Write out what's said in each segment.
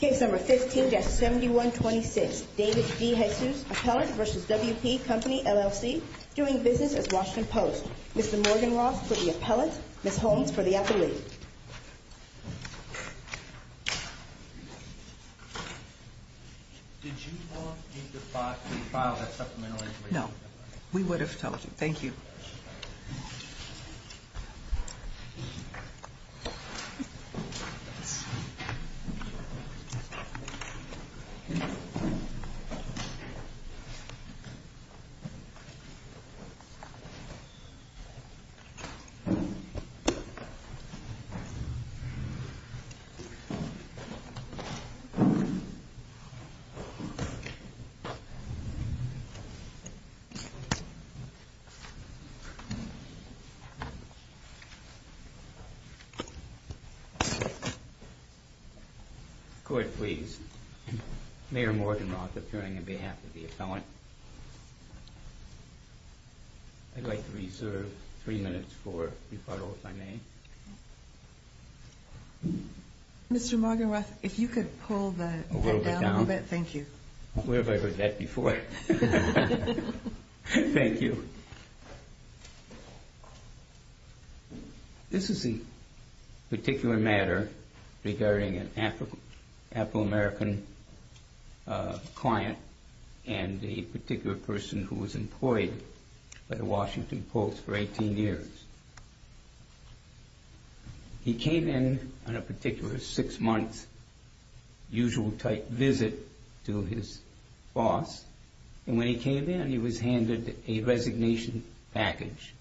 Case number 15-7126, David DeJesus Appellant v. WP Company, LLC, doing business as Washington Post Mr. Morgan Ross for the appellant, Ms. Holmes for the appellate Did you want me to file that supplemental inquiry? No, we would have told you. Thank you Thank you Court, please. Mayor Morgan Ross, appearing on behalf of the appellant I'd like to reserve three minutes for rebuttal, if I may Mr. Morgan Ross, if you could pull the event down a little bit, thank you Where have I heard that before? Thank you This is a particular matter regarding an Afro-American client and a particular person who was employed by the Washington Post for 18 years He came in on a particular six-month usual-type visit to his boss and when he came in, he was handed a resignation package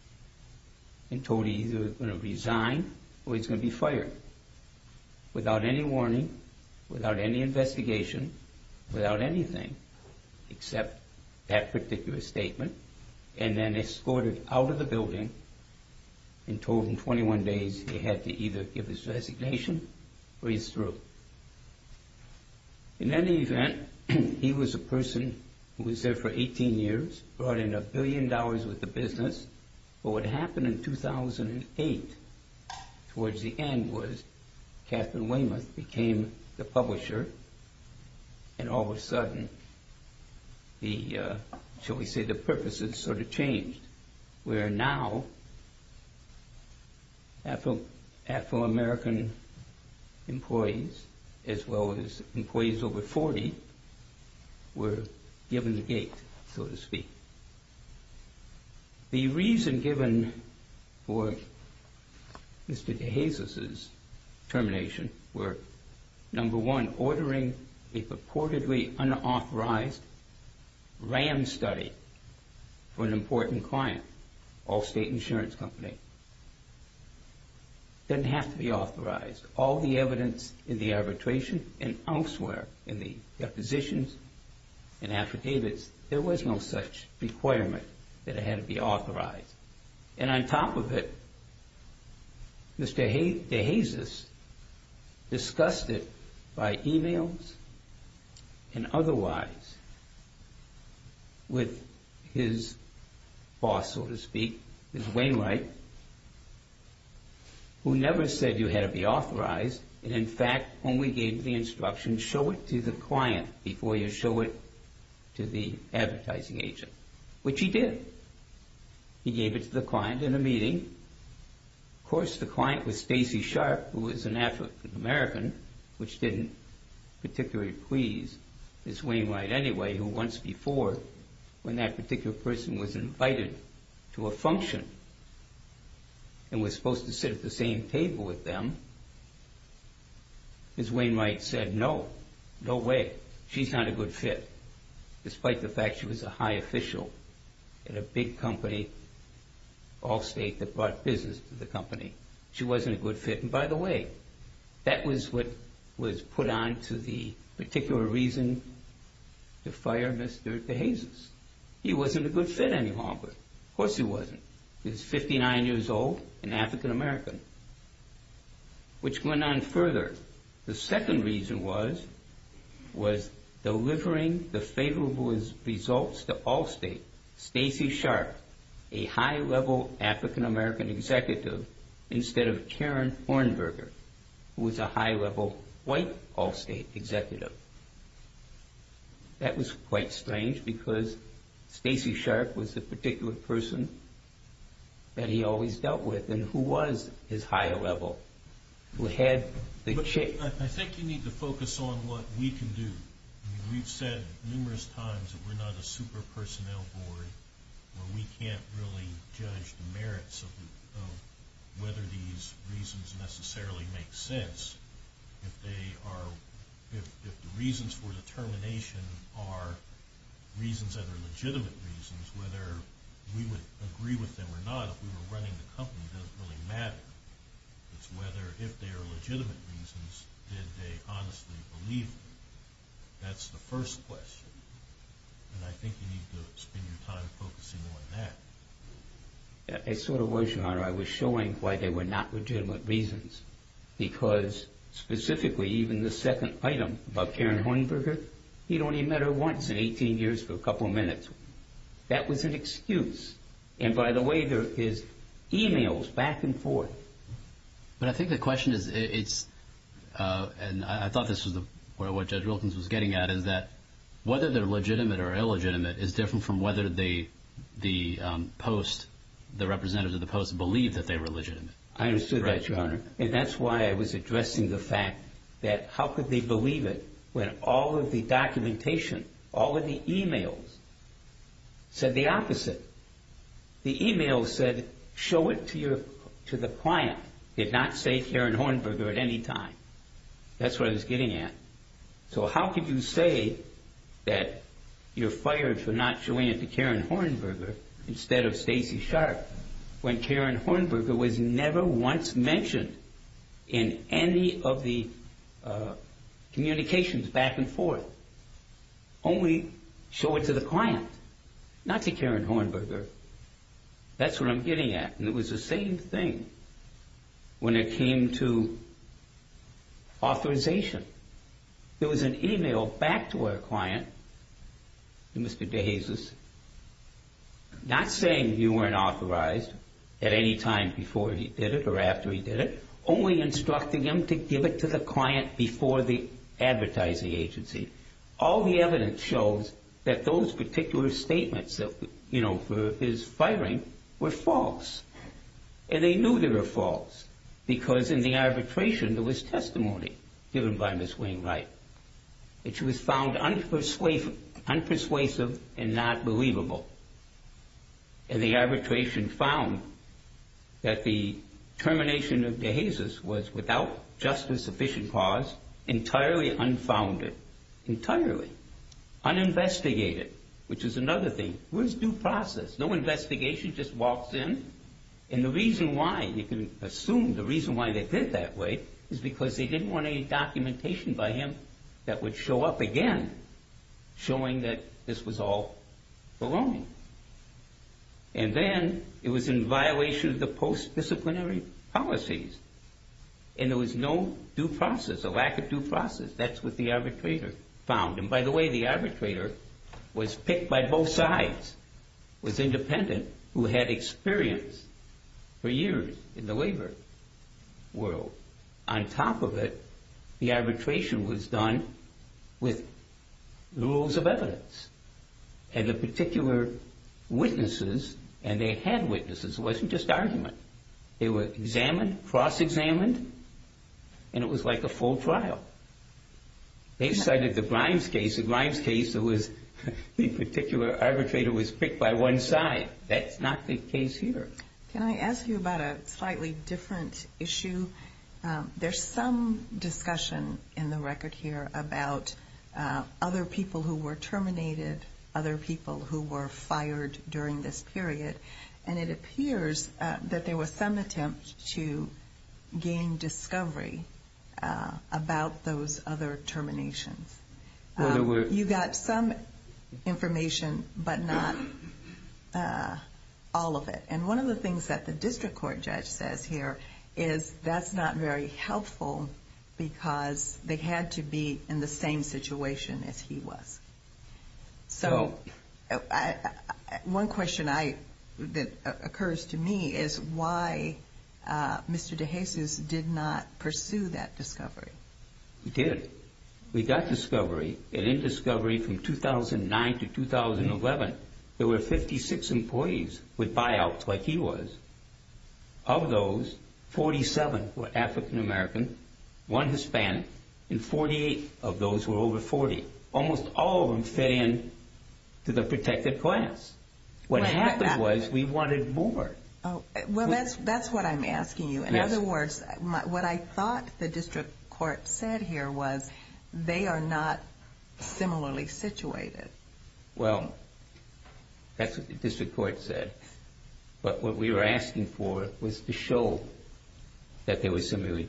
and told he was either going to resign or he was going to be fired without any warning, without any investigation, without anything except that particular statement and then escorted out of the building and told in 21 days he had to either give his resignation or he's through In any event, he was a person who was there for 18 years, brought in a billion dollars worth of business but what happened in 2008 towards the end was Catherine Weymouth became the publisher and all of a sudden, shall we say the purposes sort of changed where now Afro-American employees as well as employees over 40 were given the gate, so to speak The reason given for Mr. DeJesus' termination were number one, ordering a purportedly unauthorized RAM study for an important client, Allstate Insurance Company It didn't have to be authorized There was all the evidence in the arbitration and elsewhere in the depositions and affidavits There was no such requirement that it had to be authorized And on top of it, Mr. DeJesus discussed it by emails and otherwise with his boss, so to speak, Mr. Wainwright who never said you had to be authorized and in fact only gave the instruction, show it to the client before you show it to the advertising agent which he did He gave it to the client in a meeting Of course, the client was Stacy Sharp, who was an Afro-American which didn't particularly please Ms. Wainwright anyway who once before, when that particular person was invited to a function and was supposed to sit at the same table with them Ms. Wainwright said, no, no way, she's not a good fit despite the fact she was a high official in a big company, Allstate, that brought business to the company She wasn't a good fit And by the way, that was what was put on to the particular reason to fire Mr. DeJesus He wasn't a good fit any longer, of course he wasn't He was 59 years old, an African-American Which went on further The second reason was, was delivering the favorable results to Allstate Stacy Sharp, a high-level African-American executive instead of Karen Hornberger who was a high-level white Allstate executive That was quite strange because Stacy Sharp was the particular person that he always dealt with, and who was his high-level I think you need to focus on what we can do We've said numerous times that we're not a super-personnel board where we can't really judge the merits of whether these reasons necessarily make sense If the reasons for the termination are reasons that are legitimate reasons whether we would agree with them or not if we were running the company doesn't really matter It's whether, if they are legitimate reasons, did they honestly believe them That's the first question And I think you need to spend your time focusing on that It sort of was, Your Honor, I was showing why they were not legitimate reasons Because, specifically, even the second item about Karen Hornberger He'd only met her once in 18 years for a couple of minutes That was an excuse And by the way, there is e-mails back and forth But I think the question is, and I thought this was what Judge Wilkins was getting at is that whether they're legitimate or illegitimate is different from whether the representatives of the Post believe that they were legitimate I understood that, Your Honor And that's why I was addressing the fact that how could they believe it when all of the documentation, all of the e-mails said the opposite The e-mails said, show it to the client Did not say Karen Hornberger at any time That's what I was getting at So how could you say that you're fired for not showing it to Karen Hornberger instead of Stacey Sharp When Karen Hornberger was never once mentioned in any of the communications back and forth Only show it to the client Not to Karen Hornberger That's what I'm getting at And it was the same thing when it came to authorization There was an e-mail back to our client, to Mr. DeJesus Not saying you weren't authorized at any time before he did it or after he did it Only instructing him to give it to the client before the advertising agency All the evidence shows that those particular statements for his firing were false And they knew they were false Because in the arbitration there was testimony given by Ms. Wainwright Which was found unpersuasive and not believable And the arbitration found that the termination of DeJesus was without justice sufficient cause Entirely unfounded Entirely Uninvestigated Which is another thing It was due process No investigation, just walks in And the reason why, you can assume the reason why they did it that way Is because they didn't want any documentation by him that would show up again Showing that this was all baloney And then it was in violation of the post-disciplinary policies And there was no due process, a lack of due process That's what the arbitrator found And by the way, the arbitrator was picked by both sides Was independent, who had experience for years in the labor world On top of it, the arbitration was done with rules of evidence And the particular witnesses, and they had witnesses, it wasn't just argument They were examined, cross-examined, and it was like a full trial They cited the Grimes case, the Grimes case, the particular arbitrator was picked by one side That's not the case here Can I ask you about a slightly different issue? There's some discussion in the record here about other people who were terminated Other people who were fired during this period And it appears that there was some attempt to gain discovery about those other terminations You got some information, but not all of it And one of the things that the district court judge says here Is that's not very helpful because they had to be in the same situation as he was So, one question that occurs to me is why Mr. DeJesus did not pursue that discovery? He did. We got discovery, and in discovery from 2009 to 2011 There were 56 employees with buyouts like he was Of those, 47 were African American, one Hispanic, and 48 of those were over 40 Almost all of them fit in to the protected class What happened was we wanted more Well, that's what I'm asking you In other words, what I thought the district court said here was They are not similarly situated Well, that's what the district court said But what we were asking for was to show that they were similarly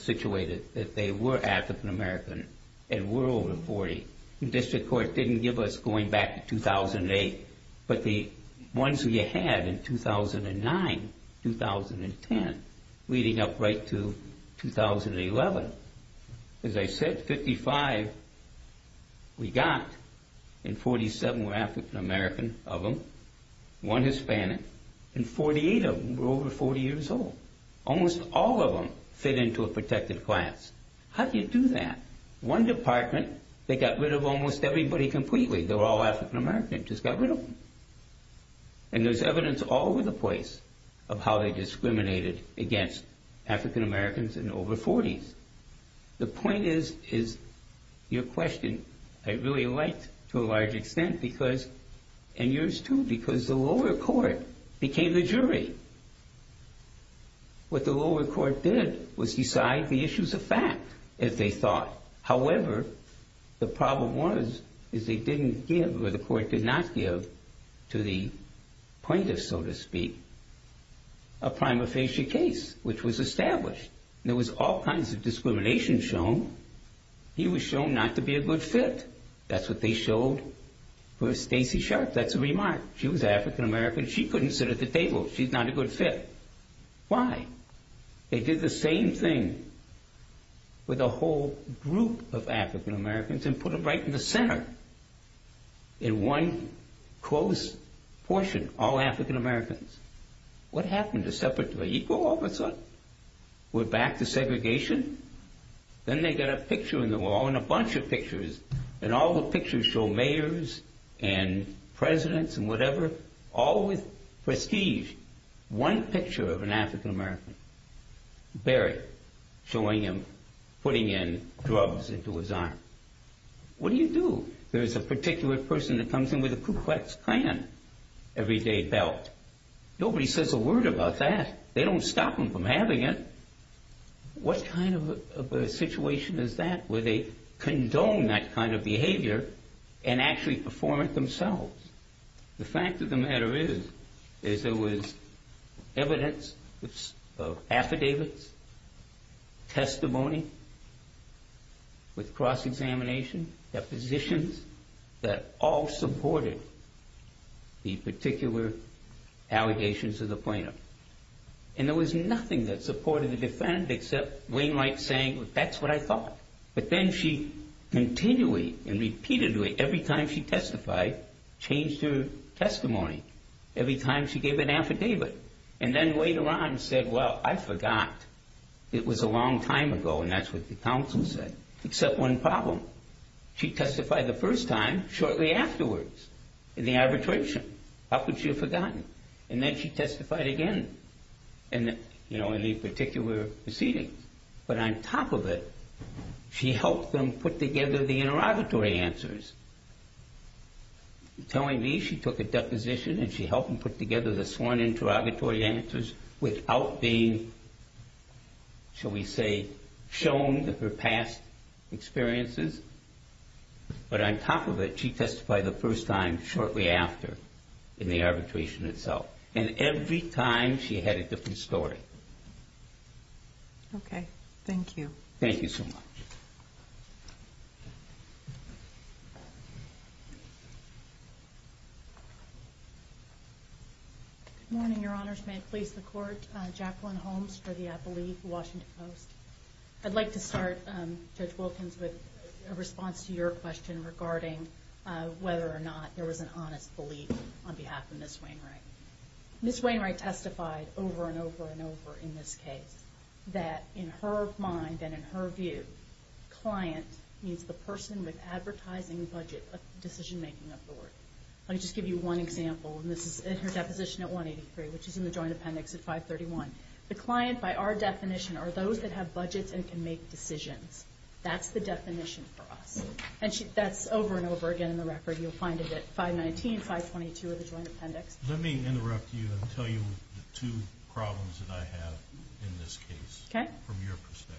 situated That they were African American and were over 40 The district court didn't give us going back to 2008 But the ones we had in 2009, 2010, leading up right to 2011 As I said, 55 we got, and 47 were African American of them One Hispanic, and 48 of them were over 40 years old Almost all of them fit into a protected class How do you do that? One department, they got rid of almost everybody completely They were all African American, just got rid of them And there's evidence all over the place Of how they discriminated against African Americans in the over 40s The point is, your question, I really liked to a large extent And yours too, because the lower court became the jury What the lower court did was decide the issues of fact, as they thought However, the problem was, is they didn't give, or the court did not give To the plaintiffs, so to speak, a prima facie case, which was established There was all kinds of discrimination shown He was shown not to be a good fit That's what they showed for Stacey Sharp That's a remark, she was African American She couldn't sit at the table, she's not a good fit Why? They did the same thing with a whole group of African Americans And put them right in the center In one close portion, all African Americans What happened? A separate, equal all of a sudden? We're back to segregation? Then they got a picture in the wall, and a bunch of pictures And all the pictures show mayors, and presidents, and whatever All with prestige One picture of an African American, buried Showing him putting in drugs into his arm What do you do? There's a particular person that comes in with a Ku Klux Klan everyday belt Nobody says a word about that They don't stop them from having it What kind of a situation is that? Where they condone that kind of behavior And actually perform it themselves The fact of the matter is There was evidence of affidavits Testimony With cross-examination Depositions That all supported The particular allegations of the plaintiff And there was nothing that supported the defendant Except Wainwright saying, that's what I thought But then she continually, and repeatedly Every time she testified, changed her testimony Every time she gave an affidavit And then later on said, well, I forgot It was a long time ago, and that's what the counsel said Except one problem She testified the first time, shortly afterwards In the arbitration How could she have forgotten? And then she testified again In the particular proceedings But on top of it She helped them put together the interrogatory answers Telling me she took a deposition And she helped them put together the sworn interrogatory answers Without being, shall we say Shown her past experiences But on top of it She testified the first time, shortly after In the arbitration itself And every time she had a different story Okay, thank you Thank you so much Good morning, your honors May it please the court Jacqueline Holmes for the Apple Leaf, Washington Post I'd like to start, Judge Wilkins With a response to your question Regarding whether or not there was an honest belief On behalf of Ms. Wainwright Ms. Wainwright testified over and over and over In this case That in her mind and in her view Client means the person with advertising budget Decision-making authority Let me just give you one example And this is in her deposition at 183 Which is in the Joint Appendix at 531 The client, by our definition Are those that have budgets and can make decisions That's the definition for us And that's over and over again in the record You'll find it at 519, 522 of the Joint Appendix Let me interrupt you And tell you the two problems that I have In this case Okay From your perspective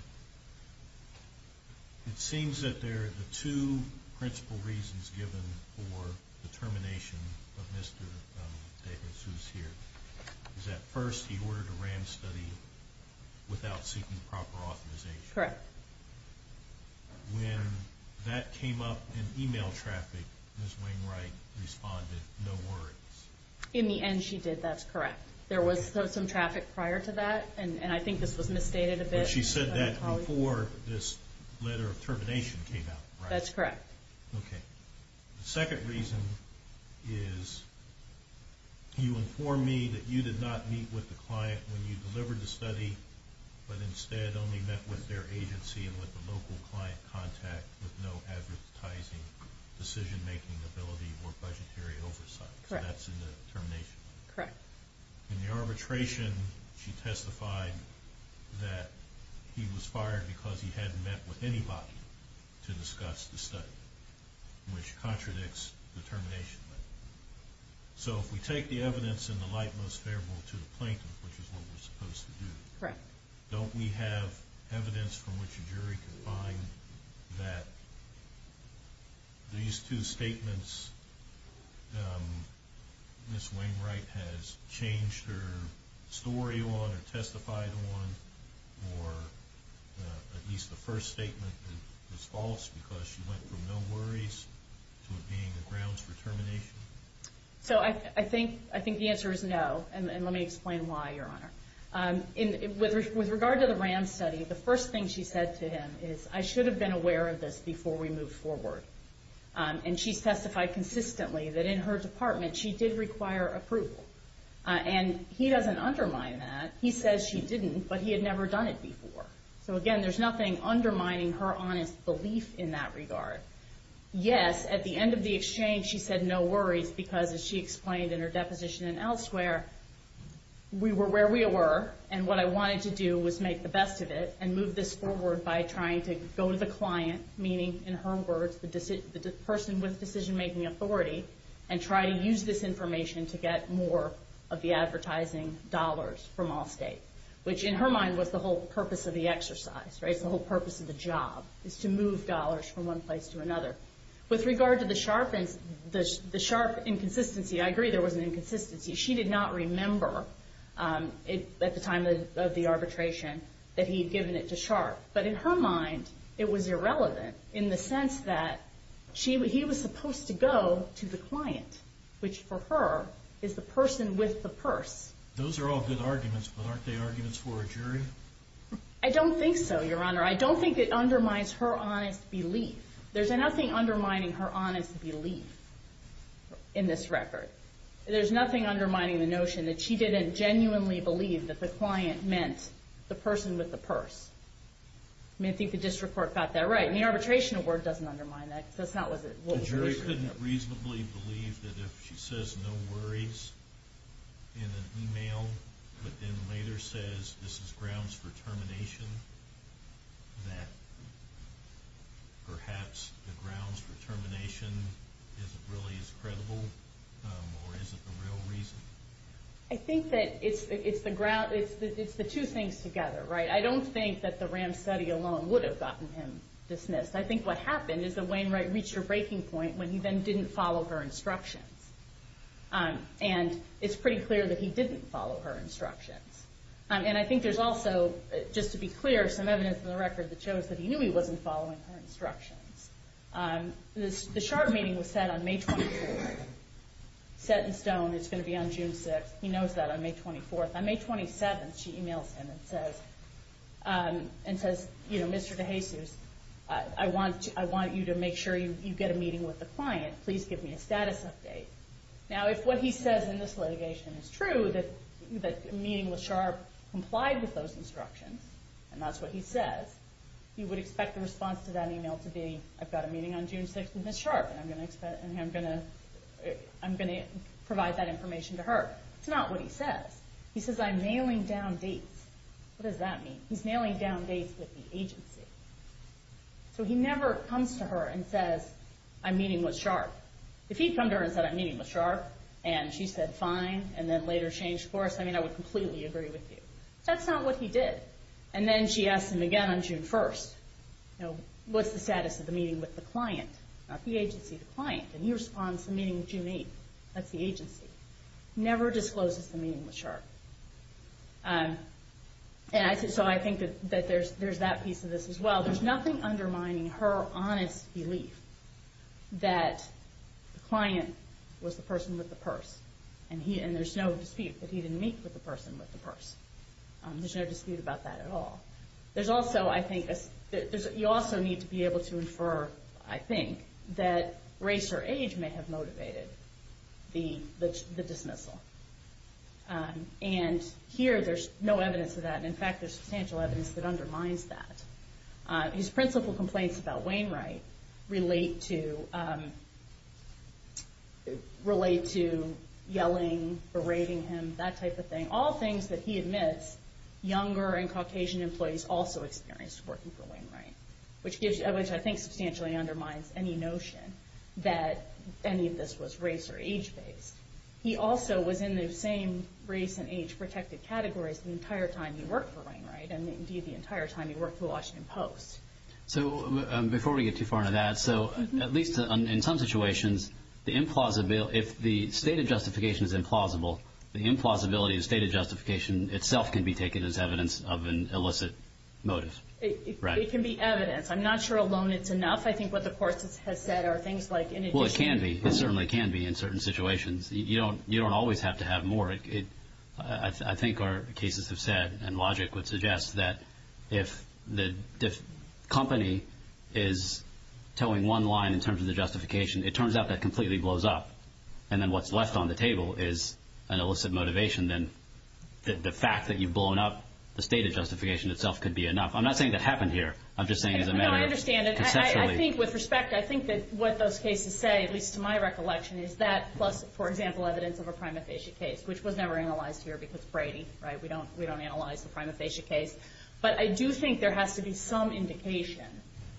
It seems that there are the two principal reasons Given for the termination of Mr. Davis Who's here Is that first, he ordered a RAM study Without seeking proper authorization Correct When that came up in email traffic Ms. Wainwright responded, no words In the end she did, that's correct There was some traffic prior to that And I think this was misstated a bit She said that before this letter of termination came out That's correct Okay The second reason is You informed me that you did not meet with the client When you delivered the study But instead only met with their agency And with the local client contact With no advertising decision-making ability Or budgetary oversight Correct So that's in the termination letter Correct In the arbitration she testified That he was fired because he hadn't met with anybody To discuss the study Which contradicts the termination letter So if we take the evidence in the light most favorable To the plaintiff, which is what we're supposed to do Correct Don't we have evidence from which a jury can find That these two statements Ms. Wainwright has changed her story on Or testified on Or at least the first statement was false Because she went from no worries To it being the grounds for termination So I think the answer is no And let me explain why, Your Honor With regard to the Rand study The first thing she said to him is I should have been aware of this Before we moved forward And she's testified consistently That in her department She did require approval And he doesn't undermine that He says she didn't But he had never done it before So again there's nothing Undermining her honest belief in that regard Yes, at the end of the exchange She said no worries Because as she explained in her deposition And elsewhere We were where we were And what I wanted to do was make the best of it And move this forward By trying to go to the client Meaning in her words The person with decision-making authority And try to use this information To get more of the advertising dollars From Allstate Which in her mind Was the whole purpose of the exercise The whole purpose of the job Is to move dollars from one place to another With regard to the sharp inconsistency I agree there was an inconsistency She did not remember At the time of the arbitration That he had given it to sharp But in her mind It was irrelevant In the sense that He was supposed to go to the client Which for her Is the person with the purse Those are all good arguments But aren't they arguments for a jury? I don't think so, your honor I don't think it undermines her honest belief There's nothing undermining her honest belief In this record There's nothing undermining the notion That she didn't genuinely believe That the client meant The person with the purse I think the district court got that right And the arbitration award doesn't undermine that The jury couldn't reasonably believe That if she says no worries In an email But then later says This is grounds for termination That perhaps the grounds for termination Isn't really as credible Or is it the real reason? I think that it's the two things together I don't think that the RAM study alone Would have gotten him dismissed I think what happened Is that Wainwright reached a breaking point When he then didn't follow her instructions And it's pretty clear That he didn't follow her instructions And I think there's also Just to be clear Some evidence in the record That shows that he knew He wasn't following her instructions The sharp meeting was set on May 24th He's set in stone It's going to be on June 6th He knows that on May 24th On May 27th she emails him And says Mr. DeJesus I want you to make sure You get a meeting with the client Please give me a status update Now if what he says In this litigation is true That the meeting with Sharp Complied with those instructions And that's what he says He would expect the response To that email to be I've got a meeting on June 6th With Ms. Sharp And I'm going to provide That information to her It's not what he says He says I'm mailing down dates What does that mean? He's mailing down dates With the agency So he never comes to her and says I'm meeting with Sharp If he'd come to her and said I'm meeting with Sharp And she said fine And then later changed course I mean I would completely agree with you That's not what he did And then she asks him again On June 1st What's the status of the meeting With the client Not the agency The client And he responds The meeting with June 8th That's the agency He never discloses The meeting with Sharp And so I think That there's that piece of this as well There's nothing undermining Her honest belief That the client Was the person with the purse And there's no dispute That he didn't meet with the person With the purse There's no dispute about that at all There's also I think You also need to be able to infer I think That race or age May have motivated The dismissal And here there's no evidence of that And in fact there's substantial evidence That undermines that His principal complaints About Wainwright Relate to Relate to yelling That type of thing All things that he admits Younger and Caucasian employees Also experienced Working for Wainwright Which gives Which I think substantially Undermines any notion That any of this was race or age based He also was in the same Race and age protected categories The entire time he worked for Wainwright And indeed the entire time He worked for the Washington Post So before we get too far into that So at least in some situations The implausibility If the stated justification is implausible The implausibility The stated justification Itself can be taken as evidence Of an illicit motive It can be evidence I'm not sure alone it's enough I think what the court has said Are things like Well it can be It certainly can be In certain situations You don't always have to have more I think our cases have said And logic would suggest That if the company Is towing one line In terms of the justification It turns out that completely blows up And then what's left on the table Is an illicit motivation Then the fact that you've blown up The stated justification Itself could be enough I'm not saying that happened here I'm just saying as a matter of Conceptually No I understand I think with respect I think that what those cases say At least to my recollection Is that plus For example evidence Of a prima facie case Which was never analyzed here Because Brady Right we don't analyze The prima facie case But I do think There has to be some indication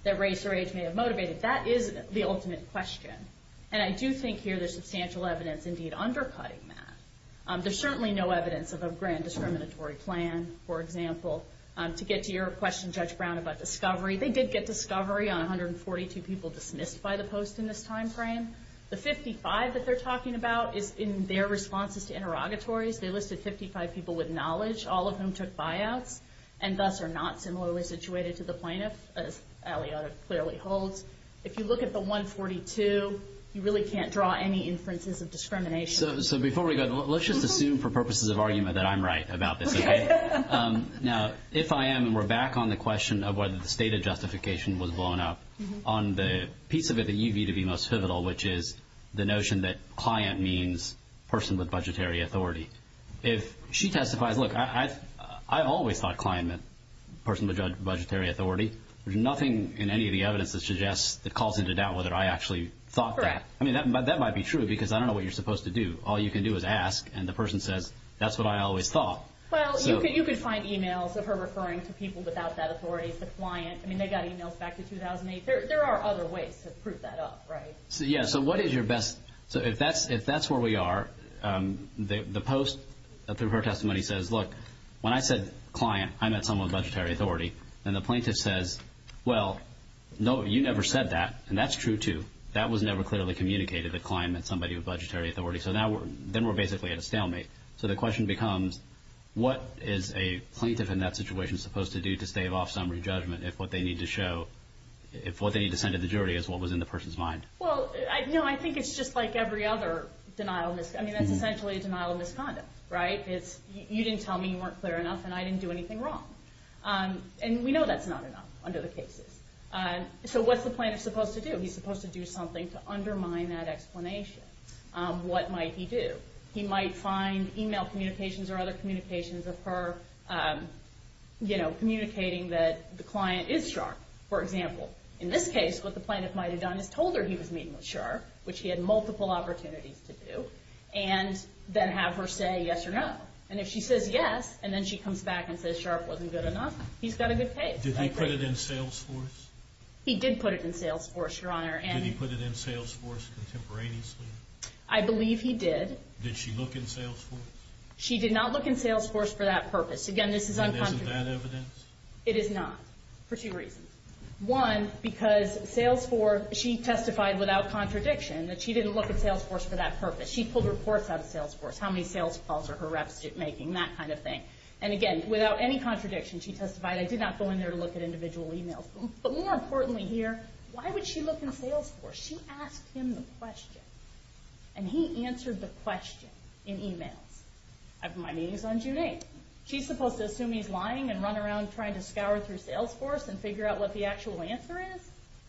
That race or age May have motivated That is the ultimate question And I do think here There's substantial evidence Indeed undercutting that There's certainly no evidence Of a grand discriminatory plan For example To get to your question Judge Brown about discovery They did get discovery On 142 people dismissed By the post in this time frame The 55 that they're talking about Is in their responses To interrogatories They listed 55 people With knowledge All of whom took buyouts And thus are not Similarly situated to the plaintiff As Aliotta clearly holds If you look at the 142 You really can't draw Any inferences of discrimination So before we go Let's just assume For purposes of argument That I'm right about this Okay Now if I am And we're back on the question Of whether the stated justification Was blown up On the piece of it That you view to be most pivotal Which is the notion That client means Person with budgetary authority If she testifies Look I always thought Client meant person With budgetary authority There's nothing in any Of the evidence that suggests That calls into doubt Whether I actually thought that Correct I mean that might be true Because I don't know What you're supposed to do All you can do is ask And the person says That's what I always thought Well you could find emails Of her referring to people Without that authority The client I mean they got emails Back to 2008 There are other ways To prove that up right Yeah so what is your best So if that's where we are The post Through her testimony Says look When I said client I meant someone With budgetary authority And the plaintiff says Well no you never said that And that's true too That was never clearly communicated That client meant somebody With budgetary authority So then we're basically At a stalemate So the question becomes What is a plaintiff In that situation Supposed to do To stave off some re-judgment If what they need to show If what they need to send To the jury Is what was in the person's mind Well no I think It's just like every other Denial of I mean that's essentially A denial of misconduct Right You didn't tell me You weren't clear enough And I didn't do anything wrong And we know That's not enough Under the cases So what's the plaintiff Supposed to do He's supposed to do something To undermine that explanation What might he do He might find Email communications Or other communications Of her You know Communicating that The client is sharp For example In this case What the plaintiff might have done Is told her he was meeting with Sharp Which he had multiple Opportunities to do And then have her say Yes or no And if she says yes And then she comes back And says Sharp wasn't good enough He's got a good case Did he put it in Salesforce He did put it in Salesforce Your Honor Did he put it in Salesforce Contemporaneously I believe he did Did she look in Salesforce She did not look in Salesforce For that purpose Again this is un- And isn't that evidence It is not For two reasons One Because Salesforce She testified without contradiction That she didn't look in Salesforce For that purpose She pulled reports out of Salesforce How many sales calls Are her reps making That kind of thing Without any contradiction She testified I did not go in there To look at individual emails But more importantly here Why would she look in Salesforce She asked him the question And he answered the question In emails I have my meetings on June 8th She's supposed to assume he's lying And run around trying to scour Through Salesforce And figure out what the actual answer is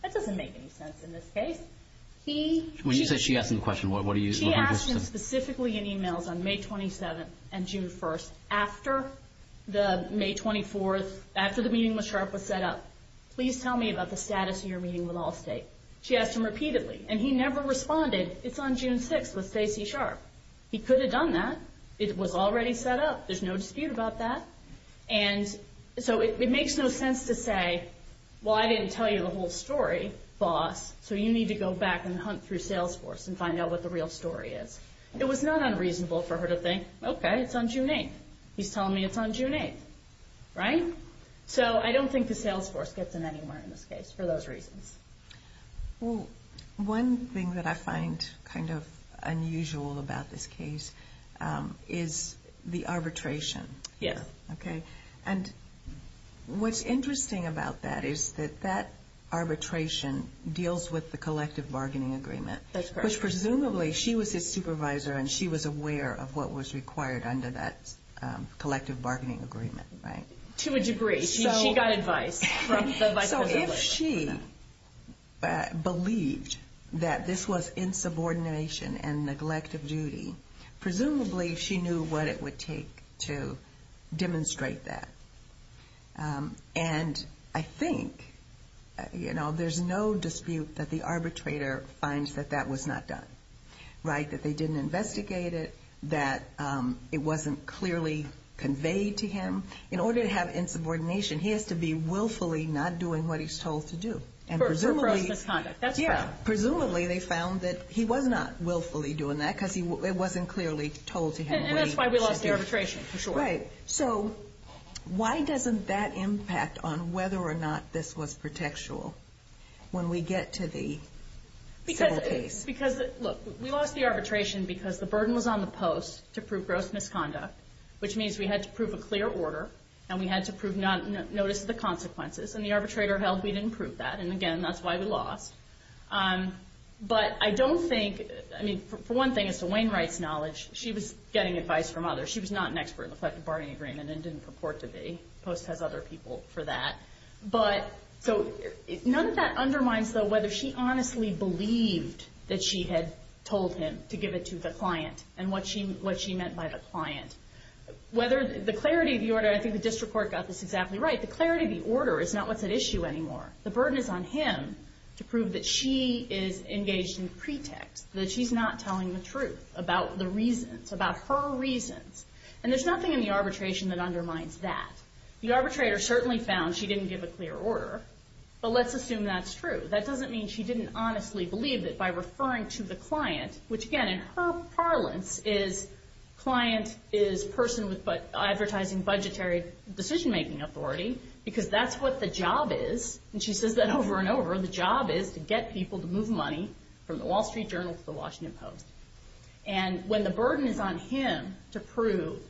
That doesn't make any sense In this case He When you say she asked him the question What do you She asked him specifically in emails On May 27th and June 1st After the May 24th After the meeting with Sharp was set up Please tell me about the status Of your meeting with Allstate She asked him repeatedly And he never responded It's on June 6th with Stacy Sharp He could have done that It was already set up There's no dispute about that And so it makes no sense to say Well I didn't tell you the whole story Boss So you need to go back And hunt through Salesforce And find out what the real story is It was not unreasonable for her to think Okay it's on June 8th He's telling me it's on June 8th Right So I don't think the Salesforce Gets in anywhere in this case For those reasons Well one thing that I find Kind of unusual about this case Is the arbitration Yes Okay And what's interesting about that Is that that arbitration Deals with the collective bargaining agreement That's correct Which presumably She was his supervisor And she was aware Of what was required Under that collective bargaining agreement Right To a degree She got advice So if she believed That this was insubordination And neglect of duty Presumably she knew What it would take To demonstrate that And I think You know There's no dispute That the arbitrator Finds that that was not done Right That they didn't investigate it That it wasn't clearly Conveyed to him In order to have insubordination He has to be willfully Not doing what he's told to do For gross misconduct Yeah Presumably they found that He was not willfully doing that Because it wasn't clearly Told to him And that's why we lost the arbitration For sure Right So Why doesn't that impact On whether or not This was protectual When we get to the Civil case Because Look We lost the arbitration Because the burden was on the post To prove gross misconduct Which means we had to prove A clear order And we had to prove That we did not Notice the consequences And the arbitrator held We didn't prove that And again That's why we lost But I don't think I mean For one thing As to Wainwright's knowledge She was getting advice From others She was not an expert In the collective bargaining agreement And didn't purport to be The post has other people For that But So None of that undermines Though whether she honestly Believed That she had Told him To give it to the client And what she What she meant by the client Whether The clarity of the order I think the district court Got this exactly right The clarity of the order Is not what's at issue anymore The burden is on him To prove that she Is engaged in pretext That she's not telling the truth About the reasons About her reasons And there's nothing In the arbitration That undermines that The arbitrator Certainly found She didn't give a clear order But let's assume that's true That doesn't mean She didn't honestly believe That by referring to the client Which again In her parlance Is Client Is person With Advertising Budgetary Benefits Or Budgetary Decision making authority Because that's what the job is And she says that over and over The job is To get people To move money From the Wall Street Journal To the Washington Post And when the burden Is on him To prove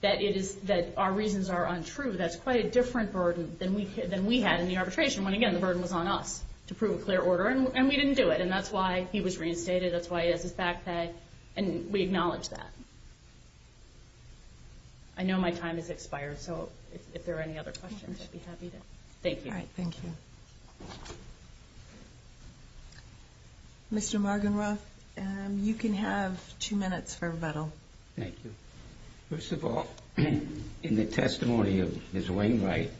That it is That our reasons Are untrue That's quite a different burden Than we had In the arbitration When again The burden was on us To prove a clear order And we didn't do it And that's why He was reinstated That's why He has his backpack And we acknowledge that I know my time Is expired So if there are Any other questions I'd be happy to Thank you All right Thank you Mr. Margenroth You can have Two minutes for rebuttal Thank you First of all In the testimony Of Ms. Wainwright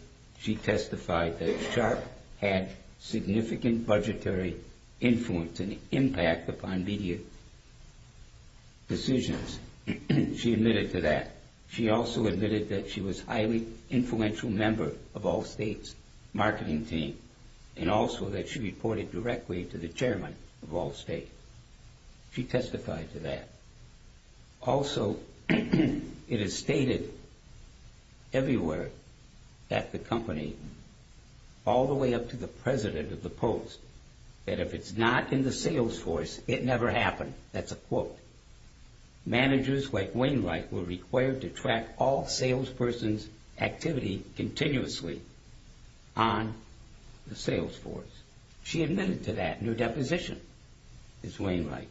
That Sharp Had Significant Budgetary Influence And impact Upon media Decisions She admitted to that She also admitted That she Had Significant Budgetary Influence Decisions She also admitted That she was Highly influential Member Of Allstate's Marketing team And also That she reported Directly to the Chairman Of Allstate She testified To that Also It is stated Everywhere That the company All the way up To the president Of the post That if it's not In the sales force It never happened That's a quote Managers Like Wainwright Were required To track all Sales persons Activity Continuously On The sales force She admitted To that And her deposition Is Wainwright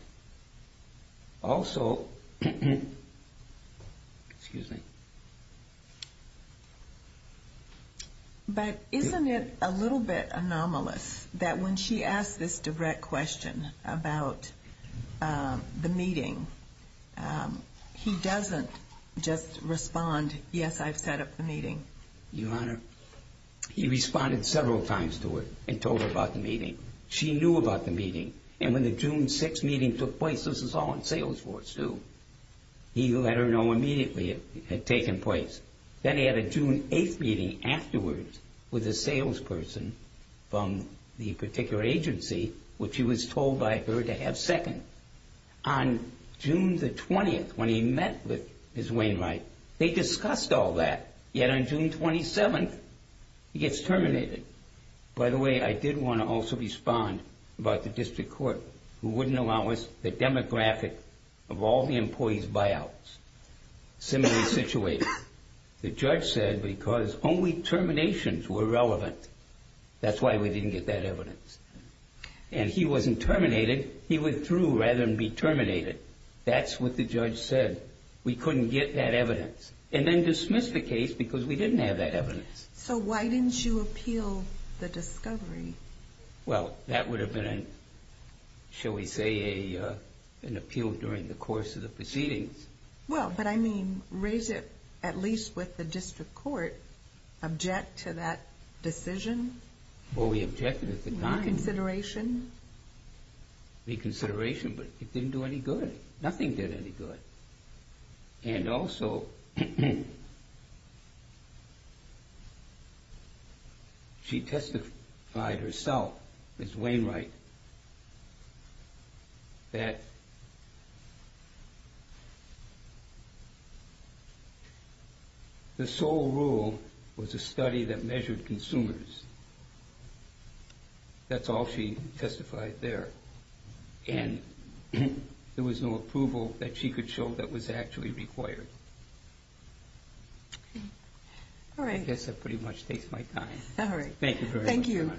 Also Excuse me But isn't it A little bit Anomalous That when she Asked this direct Question About The meeting He doesn't Just respond Yes I've set up The meeting Your honor He responded Several times to it And told her About the meeting She knew about The meeting And when the June 6th Meeting took place This was all in Sales force too He let her know Immediately It had taken place Then he had a June 8th meeting Afterwards With a sales person From the particular Agency Which he was Told by her To have second On June The 20th When he met With his Wainwright They discussed All that Yet on June 27th He gets Terminated By the way I did want to Also respond About the district Court Who wouldn't Allow us The demographic Of all the Employees buyouts Similarly situated The judge said Because only Terminations were Relevant That's why we Didn't get that Evidence And he wasn't Terminated He withdrew Rather than be Terminated That's what the Judge said We couldn't get That evidence And then dismiss The case because We didn't have That evidence So why didn't You appeal The discovery Well that would Have been Shall we say An appeal during The course of the Proceedings Well but I mean Raise it At least with The district court Object to that Decision Well we objected At the time Reconsideration Reconsideration But it didn't do Any good Nothing did Any good And also She testified Herself Ms. Wainwright That The sole rule Was a study That measured Consumers That's all She testified There And There was No approval That she could Show that was Actually required All right I guess that Pretty much takes My time All right Thank you very Much Your Honor